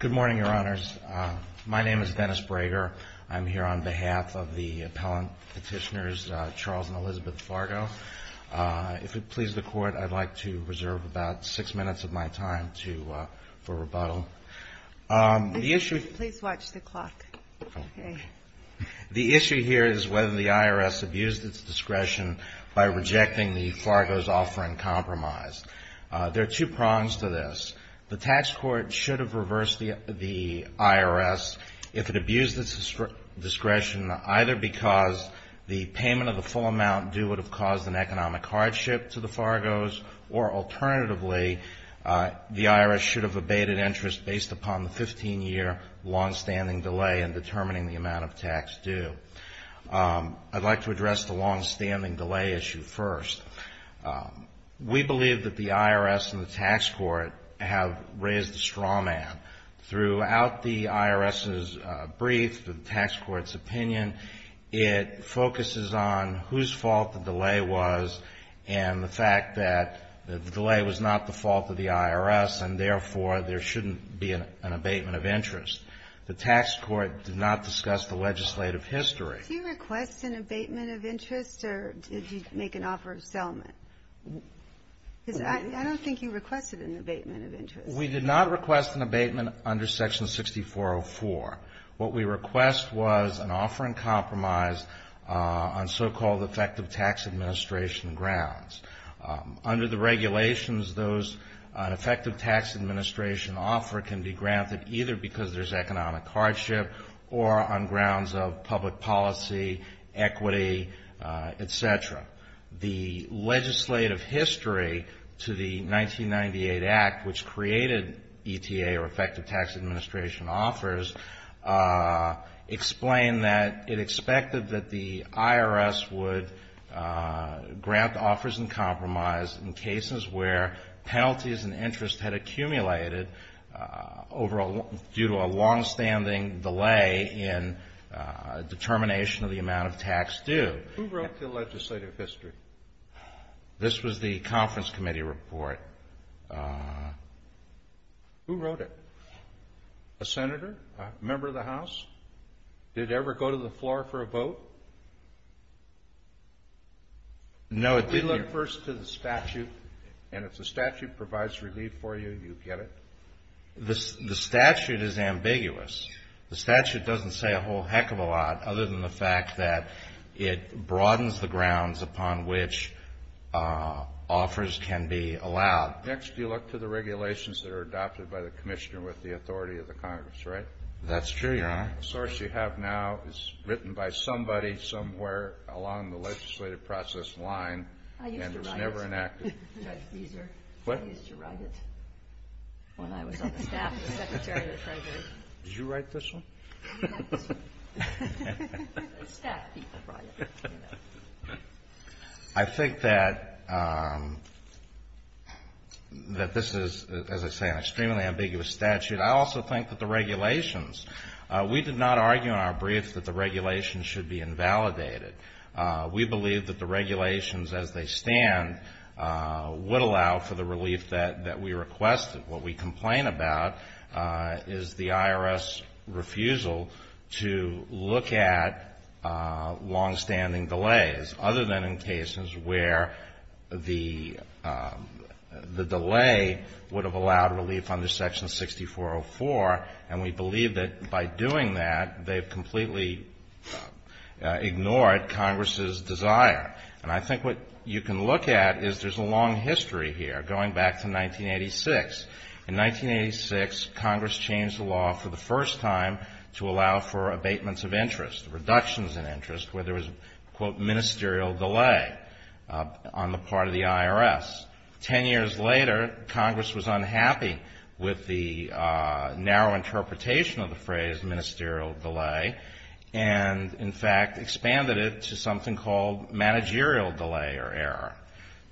Good morning, Your Honors. My name is Dennis Brager. I'm here on behalf of the appellant petitioners Charles and Elizabeth Fargo. If it pleases the Court, I'd like to reserve about six minutes of my time for rebuttal. The issue here is whether the IRS abused its There are two prongs to this. The tax court should have reversed the IRS if it abused its discretion, either because the payment of the full amount due would have caused an economic hardship to the Fargos, or alternatively, the IRS should have abated interest based upon the 15-year long-standing delay in determining the amount of tax due. I'd like to address the long-standing delay issue first. We believe that the IRS and the tax court have raised a straw man. Throughout the IRS's brief, the tax court's opinion, it focuses on whose fault the delay was and the fact that the delay was not the fault of the IRS, and therefore, there shouldn't be an abatement of interest. The tax court did not discuss the legislative history. Do you request an abatement of interest, or did you make an offer of settlement? Because I don't think you requested an abatement of interest. We did not request an abatement under Section 6404. What we request was an offer in compromise on so-called effective tax administration grounds. Under the regulations, those effective tax administration offer can be granted either because there's economic hardship or on grounds of public policy, equity, et cetera. The legislative history to the 1998 Act, which created ETA, or effective tax administration offers, explained that it expected that the IRS would grant offers in compromise in cases where penalties and interest had accumulated due to a longstanding delay in determination of the amount of tax due. Who wrote the legislative history? This was the conference committee report. Who wrote it? A senator? A member of the House? Did it ever go to the floor for a vote? No, it didn't. You look first to the statute, and if the statute provides relief for you, you get it? The statute is ambiguous. The statute doesn't say a whole heck of a lot other than the fact that it broadens the grounds upon which offers can be allowed. Next, you look to the regulations that are adopted by the commissioner with the authority of the Congress, right? That's true, Your Honor. The source you have now is written by somebody somewhere along the legislative process line, and it's never enacted. I used to write it, Judge Fieser. What? I used to write it when I was on the staff of the Secretary of the Treasury. Did you write this one? Yes. Staff people write it. I think that this is, as I say, an extremely ambiguous statute. I also think that the State did not argue in our brief that the regulations should be invalidated. We believe that the regulations, as they stand, would allow for the relief that we requested. What we complain about is the IRS refusal to look at longstanding delays, other than in cases where the delay would have allowed relief under Section 6404, and we believe that by doing that, they've completely ignored Congress's desire. And I think what you can look at is there's a long history here, going back to 1986. In 1986, Congress changed the law for the first time to allow for abatements of interest, reductions in interest, where there was a, quote, ministerial delay on the part of the IRS. Ten years later, Congress was able to reduce that ministerial delay and, in fact, expanded it to something called managerial delay or error.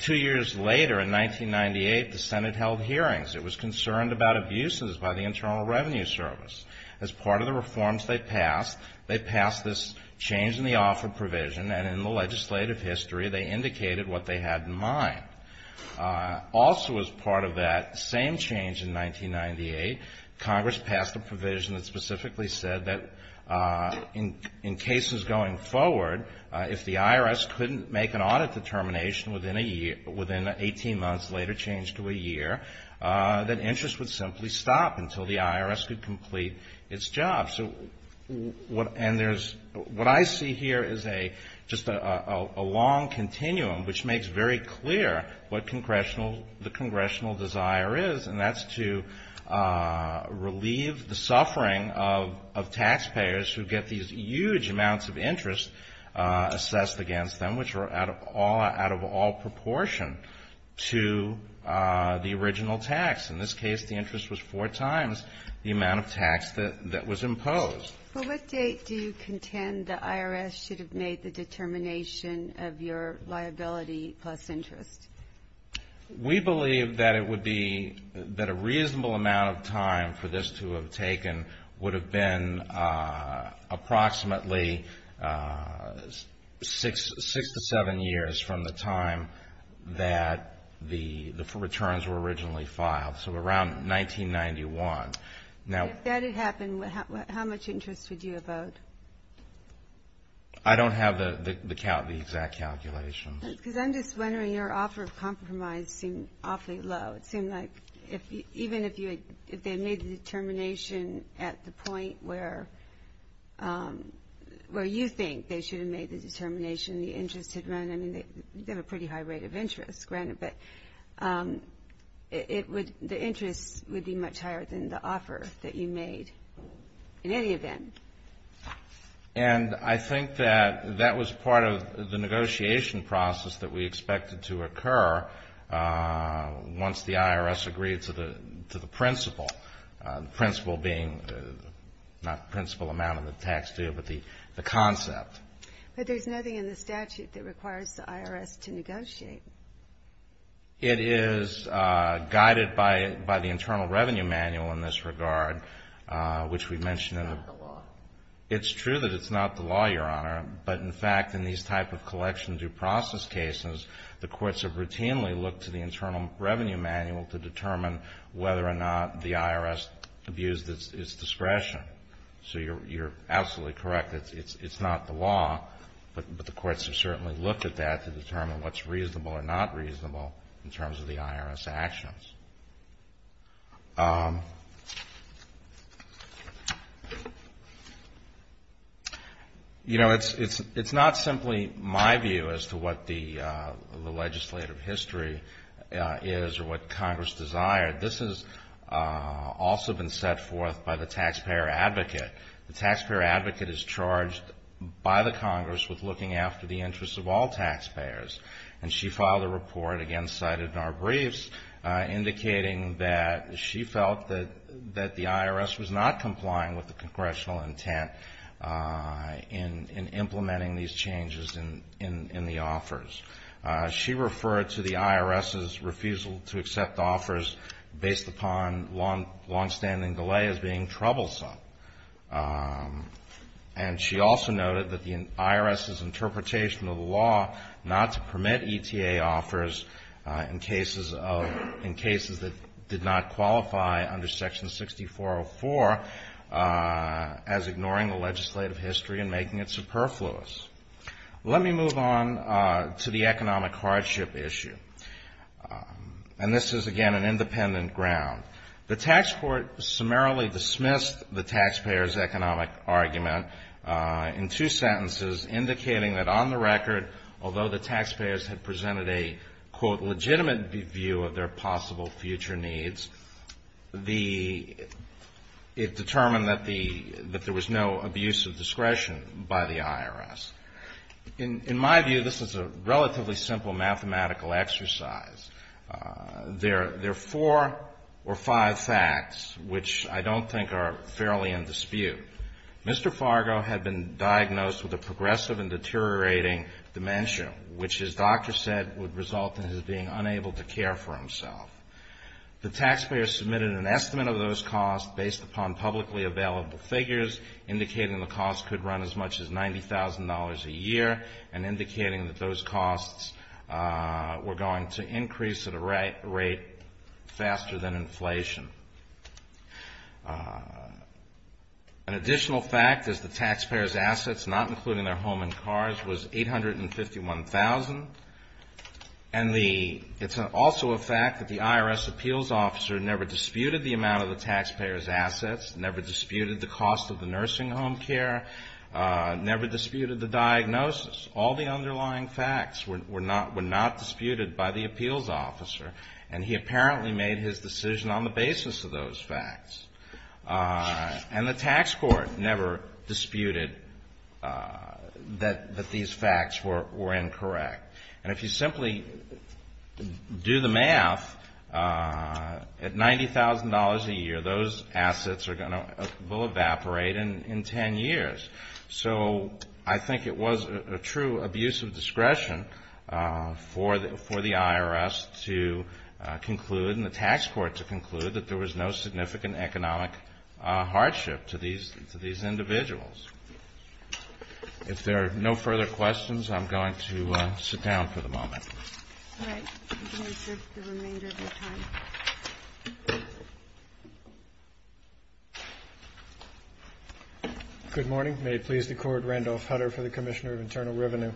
Two years later, in 1998, the Senate held hearings. It was concerned about abuses by the Internal Revenue Service. As part of the reforms they passed, they passed this change in the offer provision, and in the legislative history, they indicated what they had in mind. Also as part of that same change in 1998, Congress passed a provision that specifically said that in cases going forward, if the IRS couldn't make an audit determination within a year, within 18 months, later changed to a year, that interest would simply stop until the IRS could complete its job. So what, and there's, what I see here is a, just a long continuum, which makes very clear what Congressional, the Congressional desire is, and that's to relieve the suffering of, of taxpayers who get these huge amounts of interest assessed against them, which are out of all, out of all proportion to the original tax. In this case, the interest was four times the amount of tax that, that was imposed. Well, what date do you contend the IRS should have made the determination of your liability plus interest? We believe that it would be, that a reasonable amount of time for this to have taken would have been approximately six, six to seven years from the time that the, the returns were originally filed. So around 1991. Now, if that had happened, how much interest would you have owed? I don't have the, the exact calculations. Because I'm just wondering, your offer of compromise seemed awfully low. It seemed like if, even if you had, if they made the determination at the point where, where you think they should have made the determination, the interest had run, I mean, they have a pretty high rate of interest, granted, but it would, the interest would be much higher than the offer that you made in any event. And I think that, that was part of the negotiation process that we expected to occur once the IRS agreed to the, to the principle. The principle being, not the principal amount of the tax due, but the, the concept. But there's nothing in the statute that requires the IRS to negotiate. It is guided by, by the Internal Revenue Manual in this regard, which we mentioned in the law. It's true that it's not the law, Your Honor. But, in fact, in these type of collection due process cases, the courts have routinely looked to the Internal Revenue Manual to determine whether or not the IRS abused its, its discretion. So you're, you're absolutely correct. It's, it's, it's not the law. But, but the courts have certainly looked at that to determine what's reasonable or not reasonable in terms of the IRS actions. You know, it's, it's, it's not simply my view as to what the, the legislative history is or what Congress desired. This has also been set forth by the taxpayer advocate. The taxpayer advocate is charged by the Congress with looking after the interests of all taxpayers. And she filed a report, again cited in our briefs, indicating that she felt that, that the IRS was not complying with the Congressional intent in, in implementing these changes in, in, in the offers. She referred to the IRS's refusal to accept offers based upon long, longstanding delay as being troublesome. And she also noted that the IRS's interpretation of the law not to permit ETA offers in cases of, in cases that did not qualify under Section 6404 as ignoring the legislative history and making it superfluous. Let me move on to the economic hardship issue. And this is, again, an independent ground. The tax court summarily dismissed the taxpayer's economic argument in two sentences, indicating that on the record, although the taxpayers had presented a, quote, legitimate view of their possible future needs, the, it determined that the, that there was no abuse of discretion by the IRS. In my view, this is a relatively simple mathematical exercise. There, there are four or five facts, which I don't think are fairly in dispute. Mr. Fargo had been diagnosed with a progressive and deteriorating dementia, which his doctor said would result in his being unable to care for himself. The taxpayer submitted an estimate of those costs based upon publicly available figures, indicating the costs could run as much as $90,000 a year, and indicating that those costs were going to increase at a rate faster than inflation. An additional fact is the taxpayer's assets, not including their home and cars, was $851,000. And the, it's also a fact that the IRS appeals officer never disputed the amount of the taxpayer's assets, never disputed the cost of the nursing home care, never disputed the diagnosis. All the underlying facts were not, were not disputed by the appeals officer. And he apparently made his decision on the basis of those facts. And the tax court never disputed that these facts were incorrect. And if you simply do the math, at $90,000 a year, those assets are going to, will evaporate in ten years. So I think it was a true abuse of discretion for the IRS to conclude, and the IRS has not asked the tax court to conclude, that there was no significant economic hardship to these individuals. If there are no further questions, I'm going to sit down for the moment. Good morning. May it please the Court, Randolph Hutter for the Commissioner of Internal Revenue.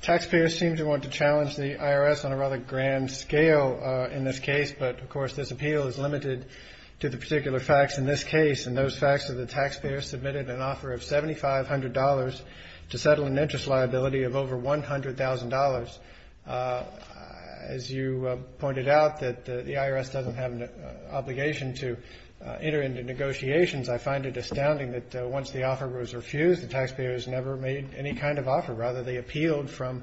Taxpayers seem to want to challenge the IRS on a rather grand scale in this case. But, of course, this appeal is limited to the particular facts in this case. And those facts are the taxpayers submitted an offer of $7,500 to settle an interest liability of over $100,000. As you pointed out, that the IRS doesn't have an obligation to enter into negotiations. I find it astounding that once the offer was refused, the taxpayers never made any kind of offer. Rather, they appealed from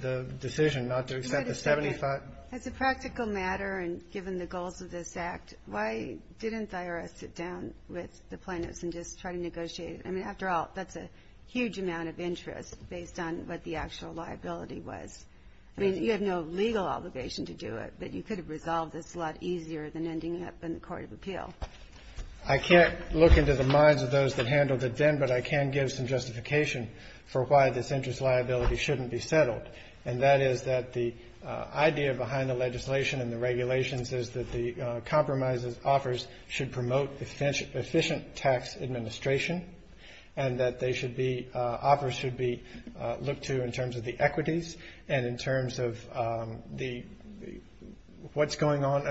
the decision not to accept the $75,000. As a practical matter, and given the goals of this Act, why didn't the IRS sit down with the plaintiffs and just try to negotiate? I mean, after all, that's a huge amount of interest based on what the actual liability was. I mean, you have no legal obligation to do it, but you could have resolved this a lot easier than ending up in the Court of Appeal. I can't look into the minds of those that handled it then, but I can give some justification for why this interest liability shouldn't be settled. And that is that the idea behind the legislation and the regulations is that the compromises offers should promote efficient tax administration, and that offers should be looked to in terms of the equities and in terms of what's going on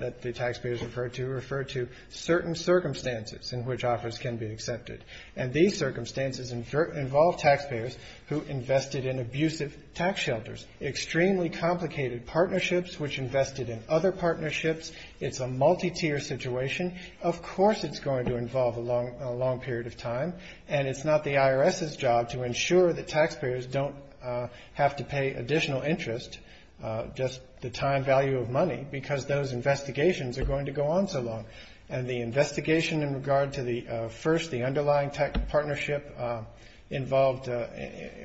that the taxpayers refer to, refer to certain circumstances in which offers can be accepted. And these circumstances involve taxpayers who invested in abusive tax shelters, extremely complicated partnerships, which invested in other partnerships. It's a multi-tier situation. Of course it's going to involve a long period of time, and it's not the IRS's job to ensure that taxpayers don't have to pay additional interest, just the time value of money, because those investigations are going to go on so long. And the investigation in regard to the first, the underlying partnership involved,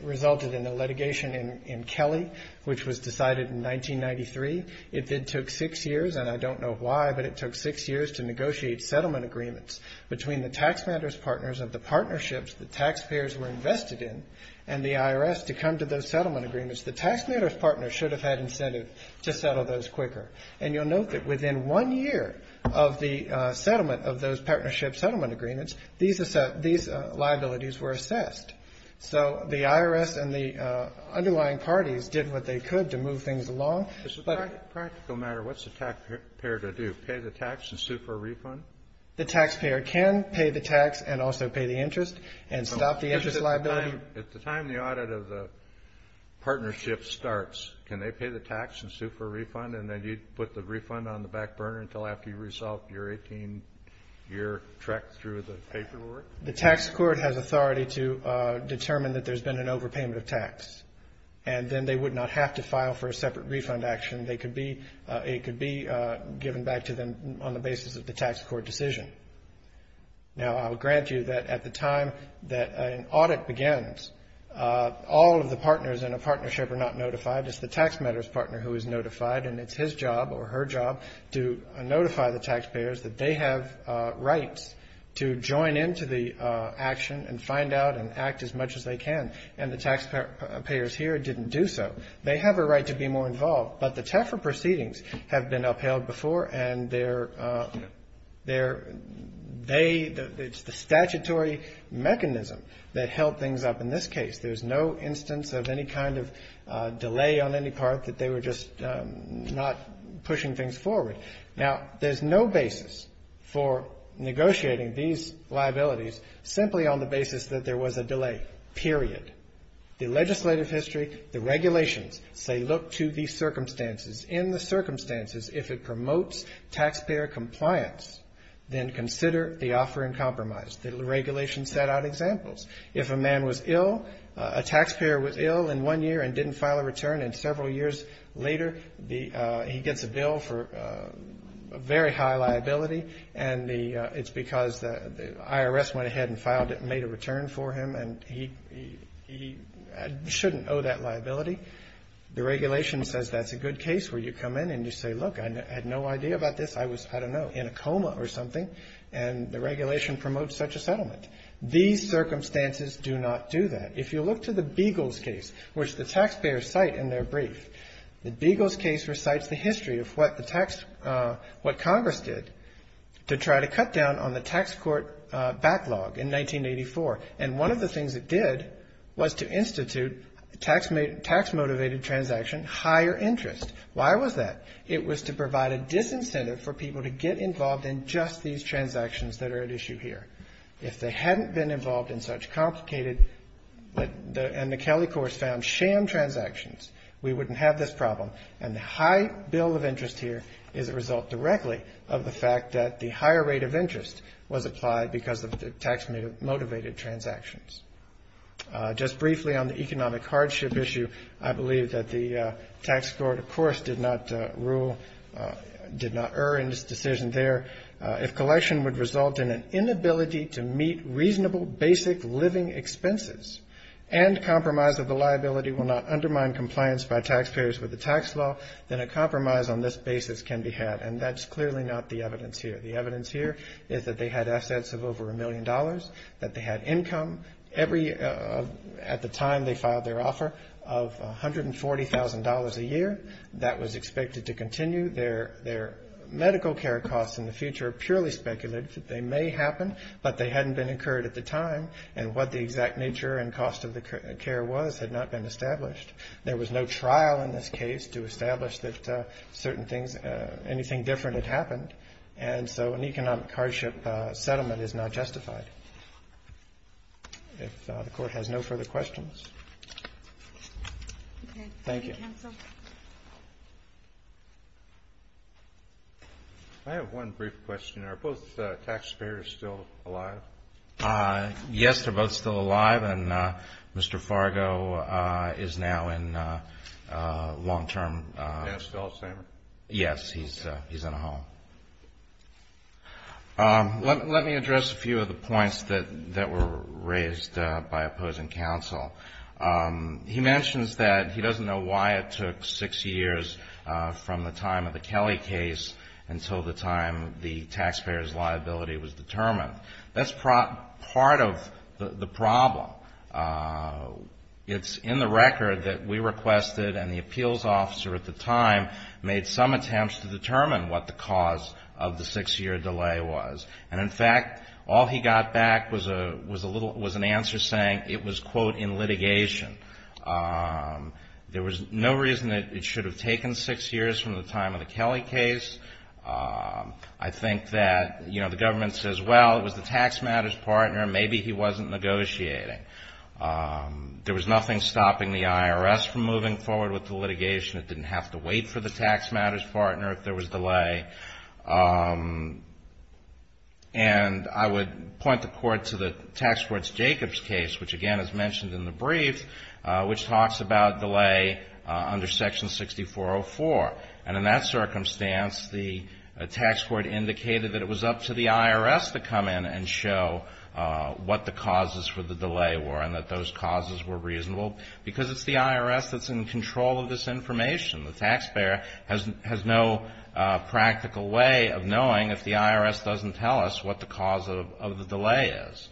resulted in the litigation in Kelly, which was decided in 1993. It then took six years, and I don't know why, but it took six years to negotiate settlement agreements between the taxpayers' partners of the partnerships the taxpayers were invested in and the IRS to come to those settlement agreements. The taxpayer's partner should have had incentive to settle those quicker. And you'll note that within one year of the settlement of those partnership settlement agreements, these liabilities were assessed. So the IRS and the underlying parties did what they could to move things along. But it's a practical matter. What's the taxpayer to do, pay the tax and sue for a refund? The taxpayer can pay the tax and also pay the interest and stop the interest liability. At the time the audit of the partnership starts, can they pay the tax and sue for a refund? And then you'd put the refund on the back burner until after you resolved your 18-year trek through the paperwork? The tax court has authority to determine that there's been an overpayment of tax. And then they would not have to file for a separate refund action. They could be, it could be given back to them on the basis of the tax court decision. Now, I'll grant you that at the time that an audit begins, all of the partners in a partnership are not notified. It's the taxpayer's partner who is notified. And it's his job or her job to notify the taxpayers that they have rights to join into the action and find out and act as much as they can. And the taxpayers here didn't do so. They have a right to be more involved. But the TAFRA proceedings have been upheld before and they're, they, it's the statutory mechanism that held things up in this case. There's no instance of any kind of delay on any part that they were just not pushing things forward. Now, there's no basis for negotiating these liabilities simply on the basis that there was a delay, period. The legislative history, the regulations say look to the circumstances. In the circumstances, if it promotes taxpayer compliance, then consider the offer in compromise. The regulations set out examples. If a man was ill, a taxpayer was ill in one year and didn't file a return, and several years later he gets a bill for a very high liability, and the, it's because the IRS went ahead and filed it and made a return for him and he shouldn't owe that liability. The regulation says that's a good case where you come in and you say, look, I had no idea about this. I was, I don't know, in a coma or something. And the regulation promotes such a settlement. These circumstances do not do that. If you look to the Beagles case, which the taxpayers cite in their brief, the Beagles case recites the history of what the tax, what Congress did to try to cut down on the tax court backlog in 1984. And one of the things it did was to institute a tax motivated transaction, higher interest. Why was that? It was to provide a disincentive for people to get involved in just these transactions that are at issue here. If they hadn't been involved in such complicated, and the Kelly courts found sham transactions, we wouldn't have this problem. And the high bill of interest here is a result directly of the fact that the higher rate of interest was applied because of the tax motivated transactions. Just briefly on the economic hardship issue, I believe that the tax court, of course, did not rule, did not err in its decision there. If collection would result in an inability to meet reasonable basic living expenses and compromise of the liability will not undermine compliance by taxpayers with the tax law, then a compromise on this basis can be had. And that's clearly not the evidence here. The evidence here is that they had assets of over a million dollars, that they had income every, at the time they filed their offer, of $140,000 a year. That was expected to continue. Their medical care costs in the future are purely speculative. They may happen, but they hadn't been incurred at the time, and what the exact nature and cost of the care was had not been established. There was no trial in this case to establish that certain things, anything different had happened, and so an economic hardship settlement is not justified. If the court has no further questions. Thank you. I have one brief question. Are both taxpayers still alive? Yes, they're both still alive, and Mr. Fargo is now in long-term. Is Dan still at Samar? Yes, he's in a home. Let me address a few of the points that were raised by opposing counsel. He mentions that he doesn't know why it took six years from the time of the Kelly case until the time the taxpayer's liability was determined. That's part of the problem. It's in the record that we requested, and the appeals officer at the time made some attempts to determine what the cause of the six-year delay was. And, in fact, all he got back was a little, was an answer saying it was, quote, in litigation. There was no reason that it should have taken six years from the time of the Kelly case. I think that, you know, the government says, well, it was the tax matters partner. Maybe he wasn't negotiating. There was nothing stopping the IRS from moving forward with the litigation. It didn't have to wait for the tax matters partner if there was delay. And I would point the court to the tax court's Jacobs case, which, again, is mentioned in the brief, which talks about delay under Section 6404. And in that circumstance, the tax court indicated that it was up to the IRS to come in and show what the causes for the delay were and that those causes were reasonable, because it's the IRS that's in control of this information. The taxpayer has no practical way of knowing if the IRS doesn't tell us what the cause of the delay is.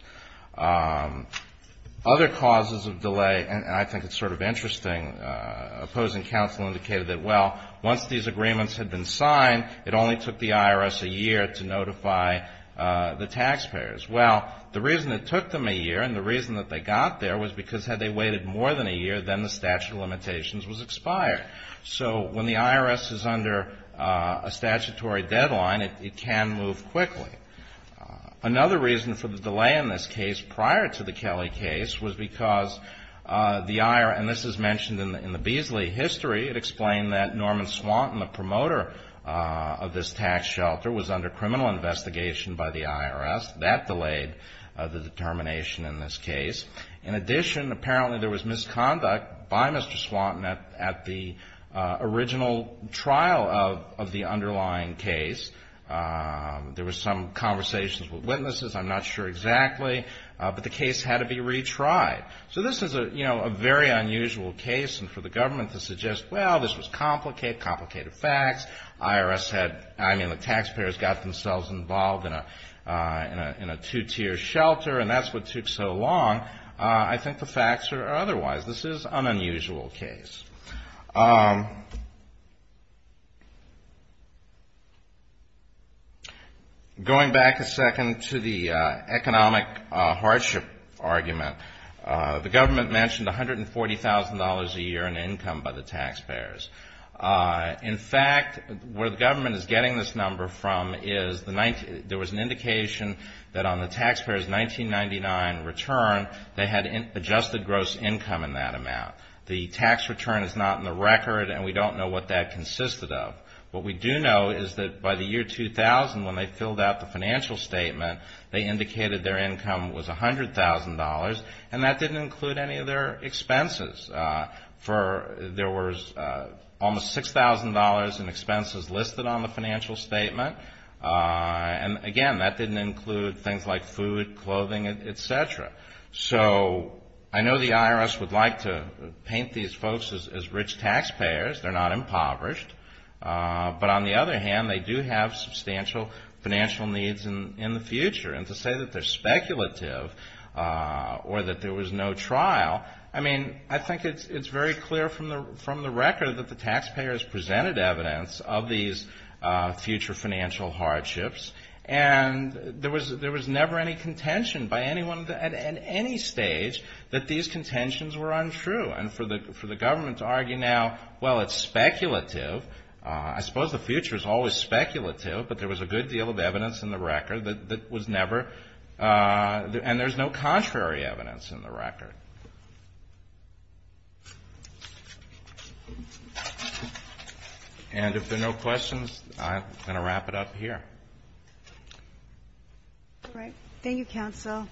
Other causes of delay, and I think it's sort of interesting, opposing counsel indicated that, well, once these agreements had been signed, it only took the IRS a year to notify the taxpayers. Well, the reason it took them a year and the reason that they got there was because had they waited more than a year, then the statute of limitations was expired. So when the IRS is under a statutory deadline, it can move quickly. Another reason for the delay in this case prior to the Kelly case was because the IRS, and this is mentioned in the Beasley history, it explained that Norman Swanton, the promoter of this tax shelter, was under criminal investigation by the IRS. That delayed the determination in this case. In addition, apparently there was misconduct by Mr. Swanton at the original trial of the underlying case. There was some conversations with witnesses, I'm not sure exactly, but the case had to be retried. So this is a, you know, a very unusual case, and for the government to suggest, well, this was complicated, complicated facts, IRS had, I mean, the taxpayers got themselves involved in a two-tier shelter, and that's what took so long, I think the facts are otherwise. This is an unusual case. Going back a second to the economic hardship argument, the government mentioned $140,000 a year in income by the taxpayers. In fact, where the government is getting this number from is, there was an indication that on the taxpayers' 1999 return, they had adjusted gross income in that amount. The tax return is not in the record, and we don't know what that consisted of. What we do know is that by the year 2000, when they filled out the financial statement, they indicated their income was $100,000, and that didn't include any of their expenses. There was almost $6,000 in expenses listed on the financial statement, and again, that didn't include things like food, clothing, et cetera. So I know the IRS would like to paint these folks as rich taxpayers, they're not impoverished, but on the other hand, they do have substantial financial needs in the future. And to say that they're speculative or that there was no trial, I mean, I think it's very clear from the record that the taxpayers presented evidence of these future financial hardships, and there was never any contention by anyone at any stage that these contentions were untrue. And for the government to argue now, well, it's speculative, I suppose the future is always speculative, but there was a good deal of evidence in the record that was never, and there's no contrary evidence in the record. And if there are no questions, I'm going to wrap it up here. All right. Thank you, Counsel.